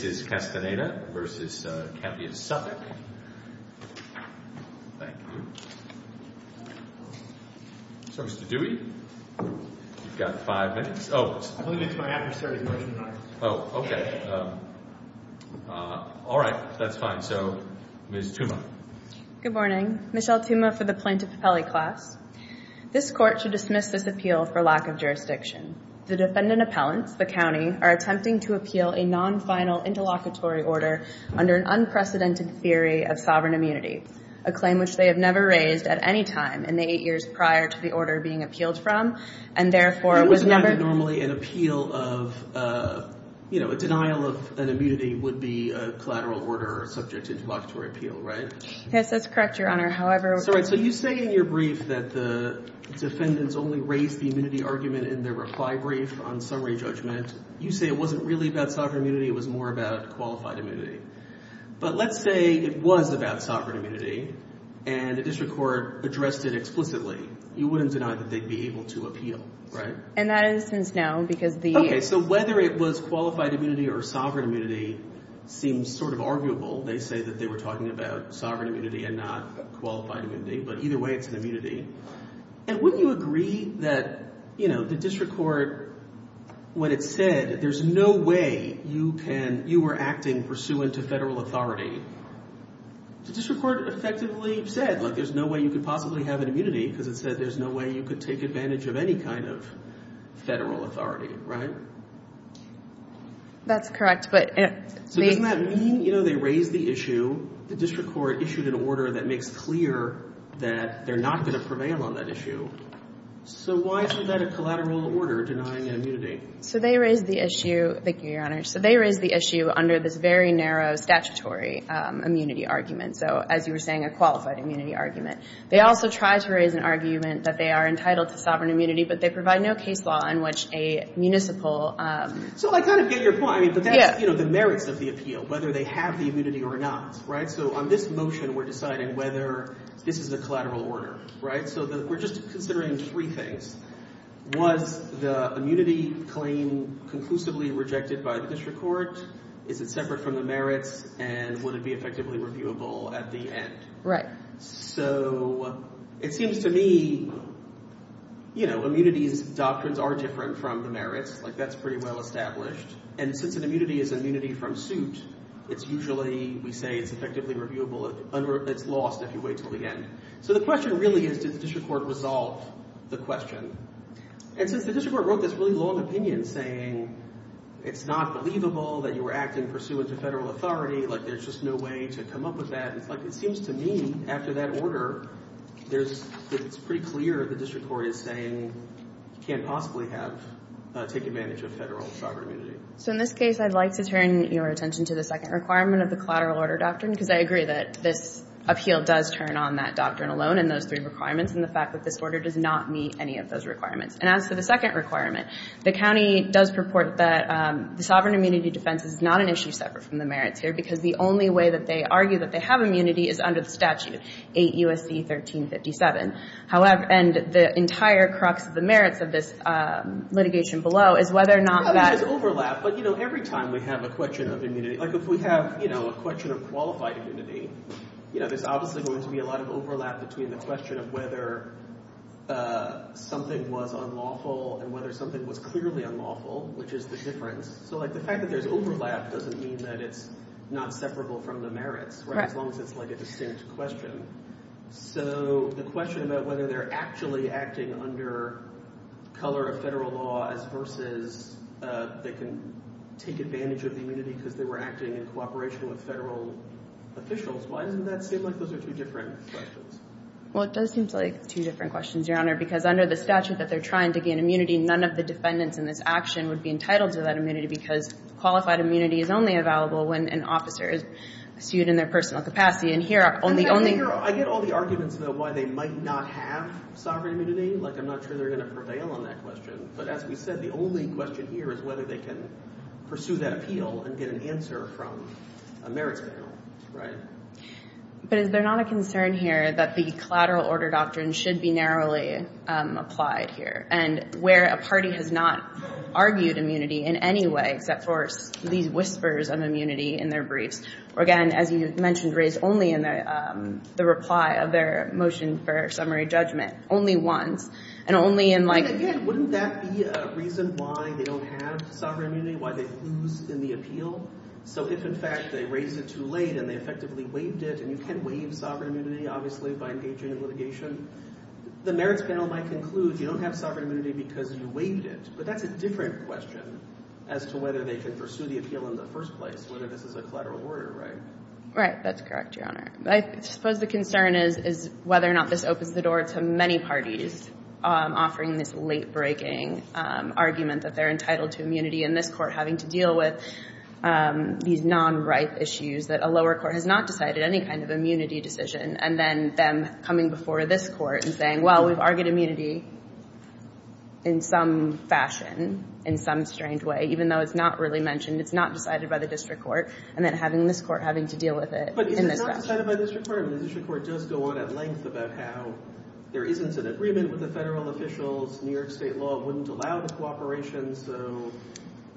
This is Castaneda v. Campion-Suffolk. Thank you. So, Mr. Dewey, you've got five minutes. Oh. I believe it's my adversary's motion, not yours. Oh, okay. All right. That's fine. So, Ms. Tuma. Good morning. Michelle Tuma for the Plaintiff Appellee Class. This Court should dismiss this appeal for lack of jurisdiction. The defendant appellants, the county, are attempting to appeal a non-final interlocutory order under an unprecedented theory of sovereign immunity, a claim which they have never raised at any time in the eight years prior to the order being appealed from, and therefore was never It was not normally an appeal of, you know, a denial of an immunity would be a collateral order subject to interlocutory appeal, right? Yes, that's correct, Your Honor. However That's all right. So you say in your brief that the defendants only raised the immunity argument in their reply brief on summary judgment. You say it wasn't really about sovereign immunity. It was more about qualified immunity. But let's say it was about sovereign immunity, and the district court addressed it explicitly. You wouldn't deny that they'd be able to appeal, right? And that instance, no, because the Okay. So whether it was qualified immunity or sovereign immunity seems sort of arguable. They say that they were talking about sovereign immunity and not qualified immunity, but either way, it's an immunity. And wouldn't you agree that, you know, the district court, when it said there's no way you can, you were acting pursuant to federal authority, the district court effectively said, like, there's no way you could possibly have an immunity because it said there's no way you could take advantage of any kind of federal authority, right? That's correct, but So doesn't that mean, you know, they raised the issue, the district court issued an order that makes clear that they're not going to prevail on that issue. So why is that a collateral order denying an immunity? So they raised the issue. Thank you, Your Honor. So they raised the issue under this very narrow statutory immunity argument. So as you were saying, a qualified immunity argument. They also tried to raise an argument that they are entitled to sovereign immunity, but they provide no case law in which a municipal So I kind of get your point, but that's, you know, the merits of the appeal, whether they have the immunity or not, right? So on this motion, we're deciding whether this is a collateral order, right? So we're just considering three things. Was the immunity claim conclusively rejected by the district court? Is it separate from the merits and would it be effectively reviewable at the end? Right. So it seems to me, you know, immunity's doctrines are different from the merits. Like, that's pretty well established. And since an immunity is immunity from suit, it's usually, we say, it's effectively reviewable. It's lost if you wait until the end. So the question really is, did the district court resolve the question? And since the district court wrote this really long opinion saying it's not believable, that you were acting pursuant to federal authority, like there's just no way to come up with that. Like, it seems to me, after that order, there's, it's pretty clear the district court is saying you can't possibly have, take advantage of federal sovereign immunity. So in this case, I'd like to turn your attention to the second requirement of the collateral order doctrine, because I agree that this appeal does turn on that doctrine alone and those three requirements, and the fact that this order does not meet any of those requirements. And as for the second requirement, the county does purport that the sovereign immunity defense is not an issue separate from the merits here, because the only way that they argue that they have immunity is under the statute, 8 U.S.C. 1357. However, and the entire crux of the merits of this litigation below is whether or not that... Yeah, there's overlap. But, you know, every time we have a question of immunity, like if we have, you know, a question of qualified immunity, you know, there's obviously going to be a lot of overlap between the question of whether something was unlawful and whether something was clearly unlawful, which is the difference. So, like, the fact that there's overlap doesn't mean that it's not separable from the merits, right, as long as it's, like, a distinct question. So the question about whether they're actually acting under color of federal law as versus they can take advantage of the immunity because they were acting in cooperation with federal officials, why doesn't that seem like those are two different questions? Well, it does seem like two different questions, Your Honor, because under the statute that they're trying to gain immunity, none of the defendants in this action would be entitled to that immunity because qualified immunity is only available when an officer is sued in their personal capacity. And here are only... I get all the arguments about why they might not have sovereign immunity. Like, I'm not sure they're going to prevail on that question. But as we said, the only question here is whether they can pursue that appeal and get an answer from a merits panel, right? But is there not a concern here that the collateral order doctrine should be narrowly applied here? And where a party has not argued immunity in any way except for these whispers of immunity in their briefs? Or, again, as you mentioned, raised only in the reply of their motion for summary judgment. Only once. And only in, like... Wouldn't that be a reason why they don't have sovereign immunity, why they lose in the appeal? So if, in fact, they raise it too late and they effectively waived it, and you can waive sovereign immunity, obviously, by engaging in litigation, the merits panel might conclude you don't have sovereign immunity because you waived it. But that's a different question as to whether they can pursue the appeal in the first place, whether this is a collateral order, right? Right. That's correct, Your Honor. I suppose the concern is whether or not this opens the door to many parties offering this late-breaking argument that they're entitled to immunity and this Court having to deal with these non-right issues, that a lower court has not decided any kind of immunity decision, and then them coming before this Court and saying, well, we've argued immunity in some fashion, in some strange way, even though it's not really mentioned, it's not decided by the district court, and then having this Court having to deal with it in this fashion. But is it not decided by the district court? The district court does go on at length about how there isn't an agreement with the federal officials, New York state law wouldn't allow the cooperation, so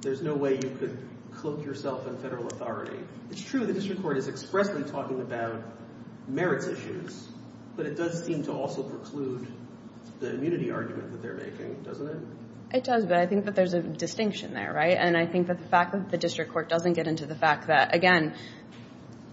there's no way you could cloak yourself in federal authority. It's true the district court is expressly talking about merits issues, but it does seem to also preclude the immunity argument that they're making, doesn't it? It does, but I think that there's a distinction there, right? And I think that the fact that the district court doesn't get into the fact that, again,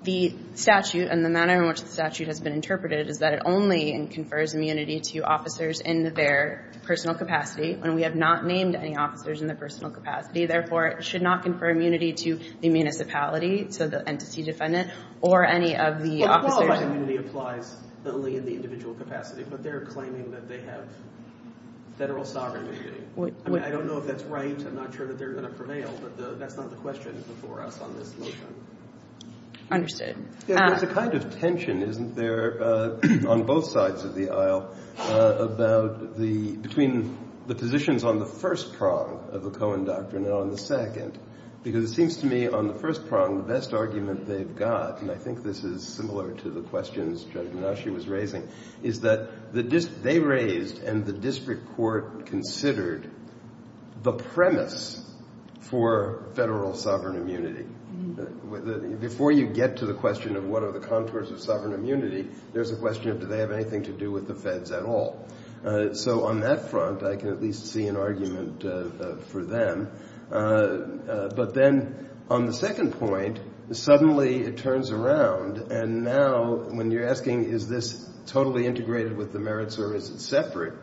the statute and the manner in which the statute has been interpreted is that it only confers immunity to officers in their personal capacity, and we have not named any officers in their personal capacity. Therefore, it should not confer immunity to the municipality, to the entity defendant, or any of the officers. Well, qualified immunity applies only in the individual capacity, but they're claiming that they have federal sovereignty. I mean, I don't know if that's right. I'm not sure that they're going to prevail, but that's not the question before us on this motion. Understood. There's a kind of tension, isn't there, on both sides of the aisle, between the positions on the first prong of the Cohen Doctrine and on the second, because it seems to me, on the first prong, the best argument they've got, and I think this is similar to the questions Judge Minashi was raising, is that they raised and the district court considered the premise for federal sovereign immunity. Before you get to the question of what are the contours of sovereign immunity, there's a question of do they have anything to do with the feds at all. So on that front, I can at least see an argument for them. But then on the second point, suddenly it turns around, and now when you're asking is this totally integrated with the merits or is it separate,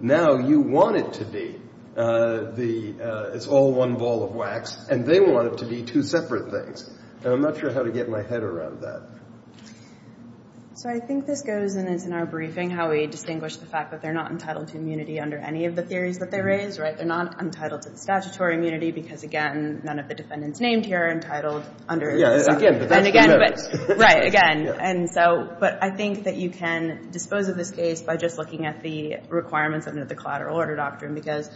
now you want it to be. It's all one ball of wax, and they want it to be two separate things. And I'm not sure how to get my head around that. So I think this goes, and it's in our briefing, how we distinguish the fact that they're not entitled to immunity under any of the theories that they raise. They're not entitled to the statutory immunity because, again, none of the defendants named here are entitled under this. Again, but that's what matters. Right. Again. But I think that you can dispose of this case by just looking at the requirements under the Collateral Order Doctrine because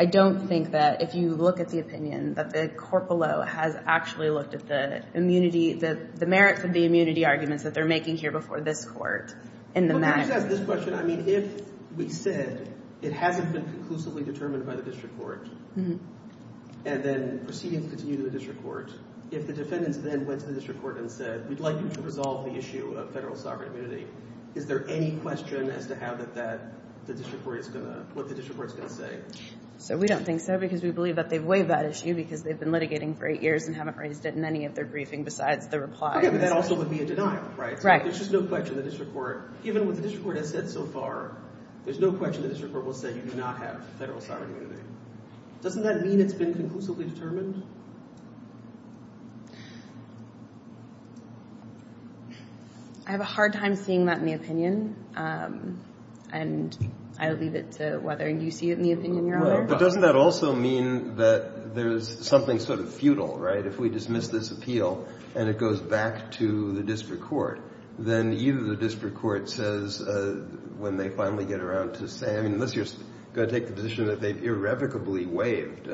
I don't think that if you look at the opinion that the court below has actually looked at the immunity, the merits of the immunity arguments that they're making here before this Court in the match. Let me just ask this question. I mean, if we said it hasn't been conclusively determined by the district court and then proceedings continue to the district court, if the defendants then went to the district court and said, we'd like you to resolve the issue of federal sovereign immunity, is there any question as to how that that the district court is going to, what the district court is going to say? So we don't think so because we believe that they've waived that issue because they've been litigating for eight years and haven't raised it in any of their briefing besides the reply. Okay, but that also would be a denial, right? Right. There's just no question the district court, even with what the district court has said so far, there's no question the district court will say you do not have federal sovereign immunity. Doesn't that mean it's been conclusively determined? I have a hard time seeing that in the opinion, and I'll leave it to whether you see it in the opinion, Your Honor. But doesn't that also mean that there's something sort of futile, right? If we dismiss this appeal and it goes back to the district court, then either the district court says when they finally get around to saying, unless you're going to take the position that they've irrevocably waived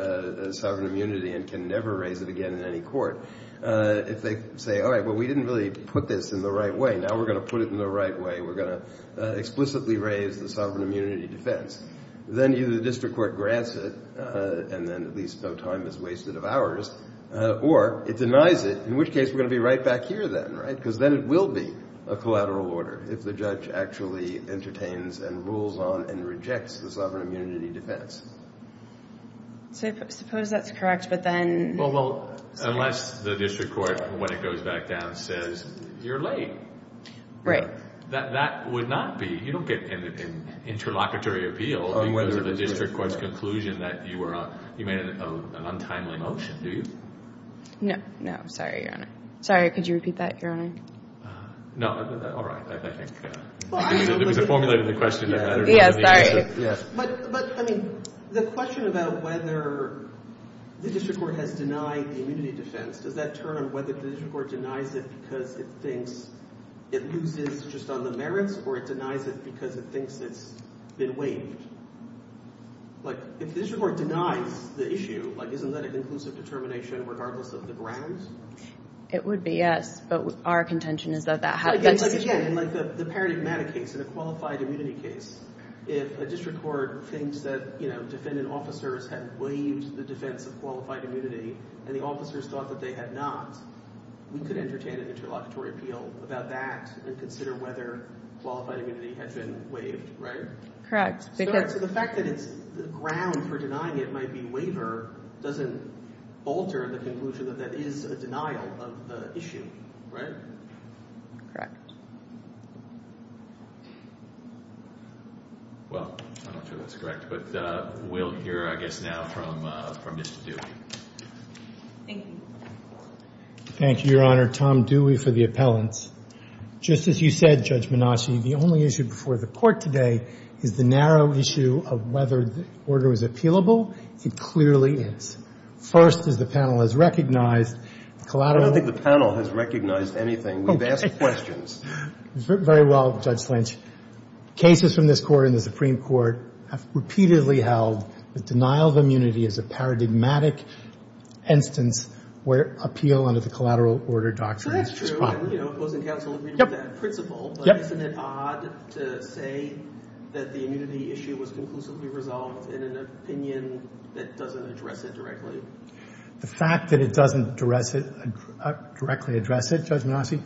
sovereign immunity and can never raise it again in any court, if they say, all right, well, we didn't really put this in the right way. Now we're going to put it in the right way. We're going to explicitly raise the sovereign immunity defense. Then either the district court grants it, and then at least no time is wasted of ours, or it denies it, in which case we're going to be right back here then, right? Because then it will be a collateral order if the judge actually entertains and rules on and rejects the sovereign immunity defense. So suppose that's correct, but then— Well, unless the district court, when it goes back down, says you're late. Right. That would not be—you don't get an interlocutory appeal because of the district court's conclusion that you made an untimely motion, do you? No. No. Sorry, Your Honor. Sorry, could you repeat that, Your Honor? No. All right. I think— Well, I mean— It was a formulated question that I don't know the answer to. Yes, sorry. Yes. But, I mean, the question about whether the district court has denied the immunity defense, does that turn on whether the district court denies it because it thinks it loses just on the merits, or it denies it because it thinks it's been waived? Like, if the district court denies the issue, like, isn't that an inclusive determination regardless of the grounds? It would be, yes. But our contention is that that— But again, like the paradigmatic case, in a qualified immunity case, if a district court thinks that, you know, defendant officers have waived the defense of qualified immunity, and the officers thought that they had not, we could entertain an interlocutory appeal about that and consider whether qualified immunity has been waived, right? Correct. So the fact that it's—the ground for denying it might be waiver doesn't alter the conclusion that that is a denial of the issue, right? Correct. Well, I'm not sure that's correct, but we'll hear, I guess, now from Mr. Dewey. Thank you. Thank you, Your Honor. Tom Dewey for the appellants. Just as you said, Judge Menaci, the only issue before the Court today is the narrow issue of whether the order is appealable. It clearly is. First, as the panel has recognized, collateral— I don't think the panel has recognized anything. We've asked questions. Very well, Judge Lynch. Cases from this Court and the Supreme Court have repeatedly held that denial of immunity is a paradigmatic instance where appeal under the collateral order doctrine is problematic. So that's true. And, you know, it was in counsel's reading of that principle. Yep. But isn't it odd to say that the immunity issue was conclusively resolved in an opinion that doesn't address it directly? The fact that it doesn't directly address it, Judge Menaci,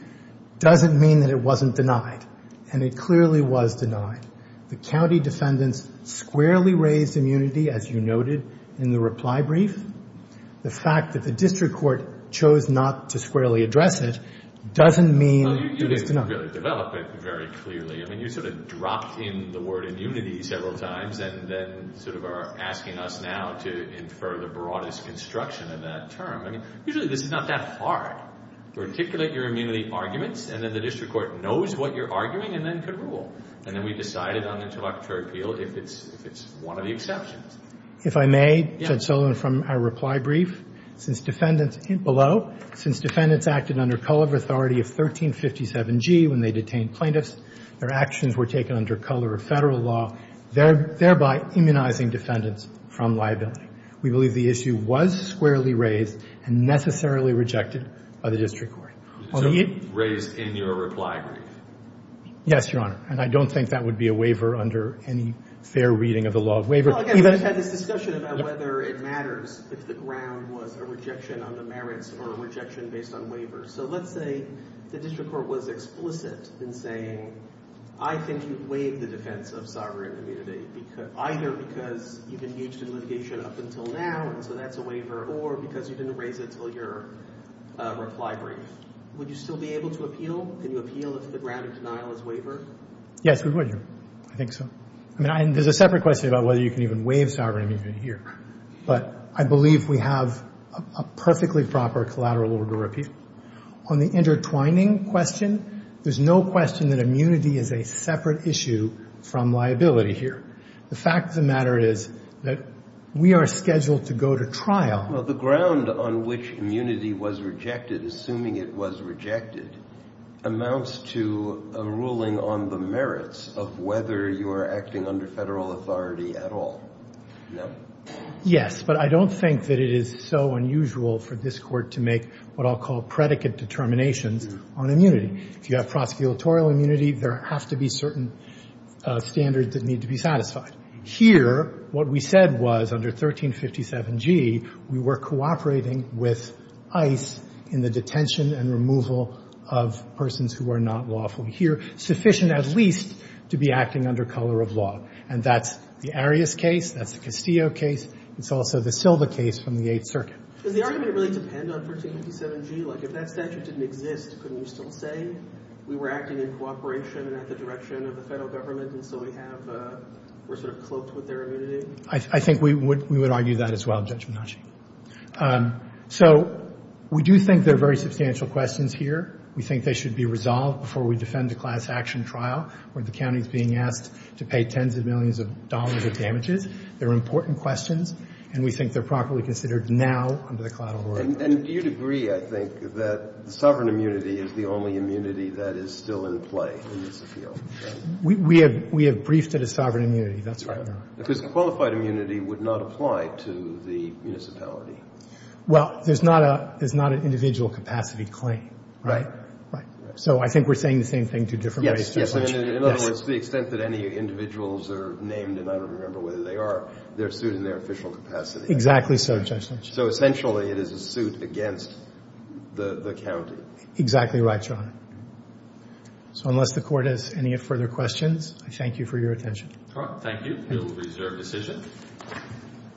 doesn't mean that it wasn't denied, and it clearly was denied. The county defendants squarely raised immunity, as you noted in the reply brief. The fact that the district court chose not to squarely address it doesn't mean it is denied. Well, you didn't really develop it very clearly. I mean, you sort of dropped in the word immunity several times and then sort of are asking us now to infer the broadest construction of that term. I mean, usually this is not that hard. You articulate your immunity arguments, and then the district court knows what you're arguing and then can rule. And then we decided on the introductory appeal if it's one of the exceptions. If I may, Judge Sullivan, from our reply brief, since defendants below, since defendants acted under color of authority of 1357G when they detained plaintiffs, their actions were taken under color of Federal law, thereby immunizing defendants from liability. We believe the issue was squarely raised and necessarily rejected by the district court. So raised in your reply brief. Yes, Your Honor. And I don't think that would be a waiver under any fair reading of the law of waiver. Well, again, we just had this discussion about whether it matters if the ground was a rejection on the merits or a rejection based on waiver. So let's say the district court was explicit in saying, I think you waived the defense of sovereign immunity, either because you've engaged in litigation up until now, and so that's a waiver, or because you didn't raise it until your reply brief. Would you still be able to appeal? Can you appeal if the ground of denial is waiver? Yes, we would, Your Honor. I think so. I mean, there's a separate question about whether you can even waive sovereign immunity here. But I believe we have a perfectly proper collateral order of appeal. On the intertwining question, there's no question that immunity is a separate issue from liability here. The fact of the matter is that we are scheduled to go to trial. Well, the ground on which immunity was rejected, assuming it was rejected, amounts to a ruling on the merits of whether you are acting under Federal authority at all. No? Yes, but I don't think that it is so unusual for this Court to make what I'll call predicate determinations on immunity. If you have prosecutorial immunity, there have to be certain standards that need to be satisfied. Here, what we said was under 1357G, we were cooperating with ICE in the detention and removal of persons who are not lawful here, sufficient at least to be acting under color of law. And that's the Arias case. That's the Castillo case. It's also the Silva case from the Eighth Circuit. Does the argument really depend on 1357G? Like, if that statute didn't exist, couldn't you still say we were acting in cooperation and at the direction of the Federal Government? And so we have a – we're sort of cloaked with their immunity? I think we would argue that as well, Judge Menache. So we do think there are very substantial questions here. We think they should be resolved before we defend a class action trial where the county is being asked to pay tens of millions of dollars of damages. They're important questions, and we think they're properly considered now under the collateral law. And do you agree, I think, that sovereign immunity is the only immunity that is still in play in this appeal? We have – we have briefed it as sovereign immunity. That's right. Because qualified immunity would not apply to the municipality. Well, there's not a – there's not an individual capacity claim. Right. Right. So I think we're saying the same thing two different ways, Judge Menache. In other words, to the extent that any individuals are named, and I don't remember whether they are, they're sued in their official capacity. Exactly so, Judge Menache. So essentially it is a suit against the county. Exactly right, Your Honor. So unless the court has any further questions, I thank you for your attention. Thank you. We will reserve decision.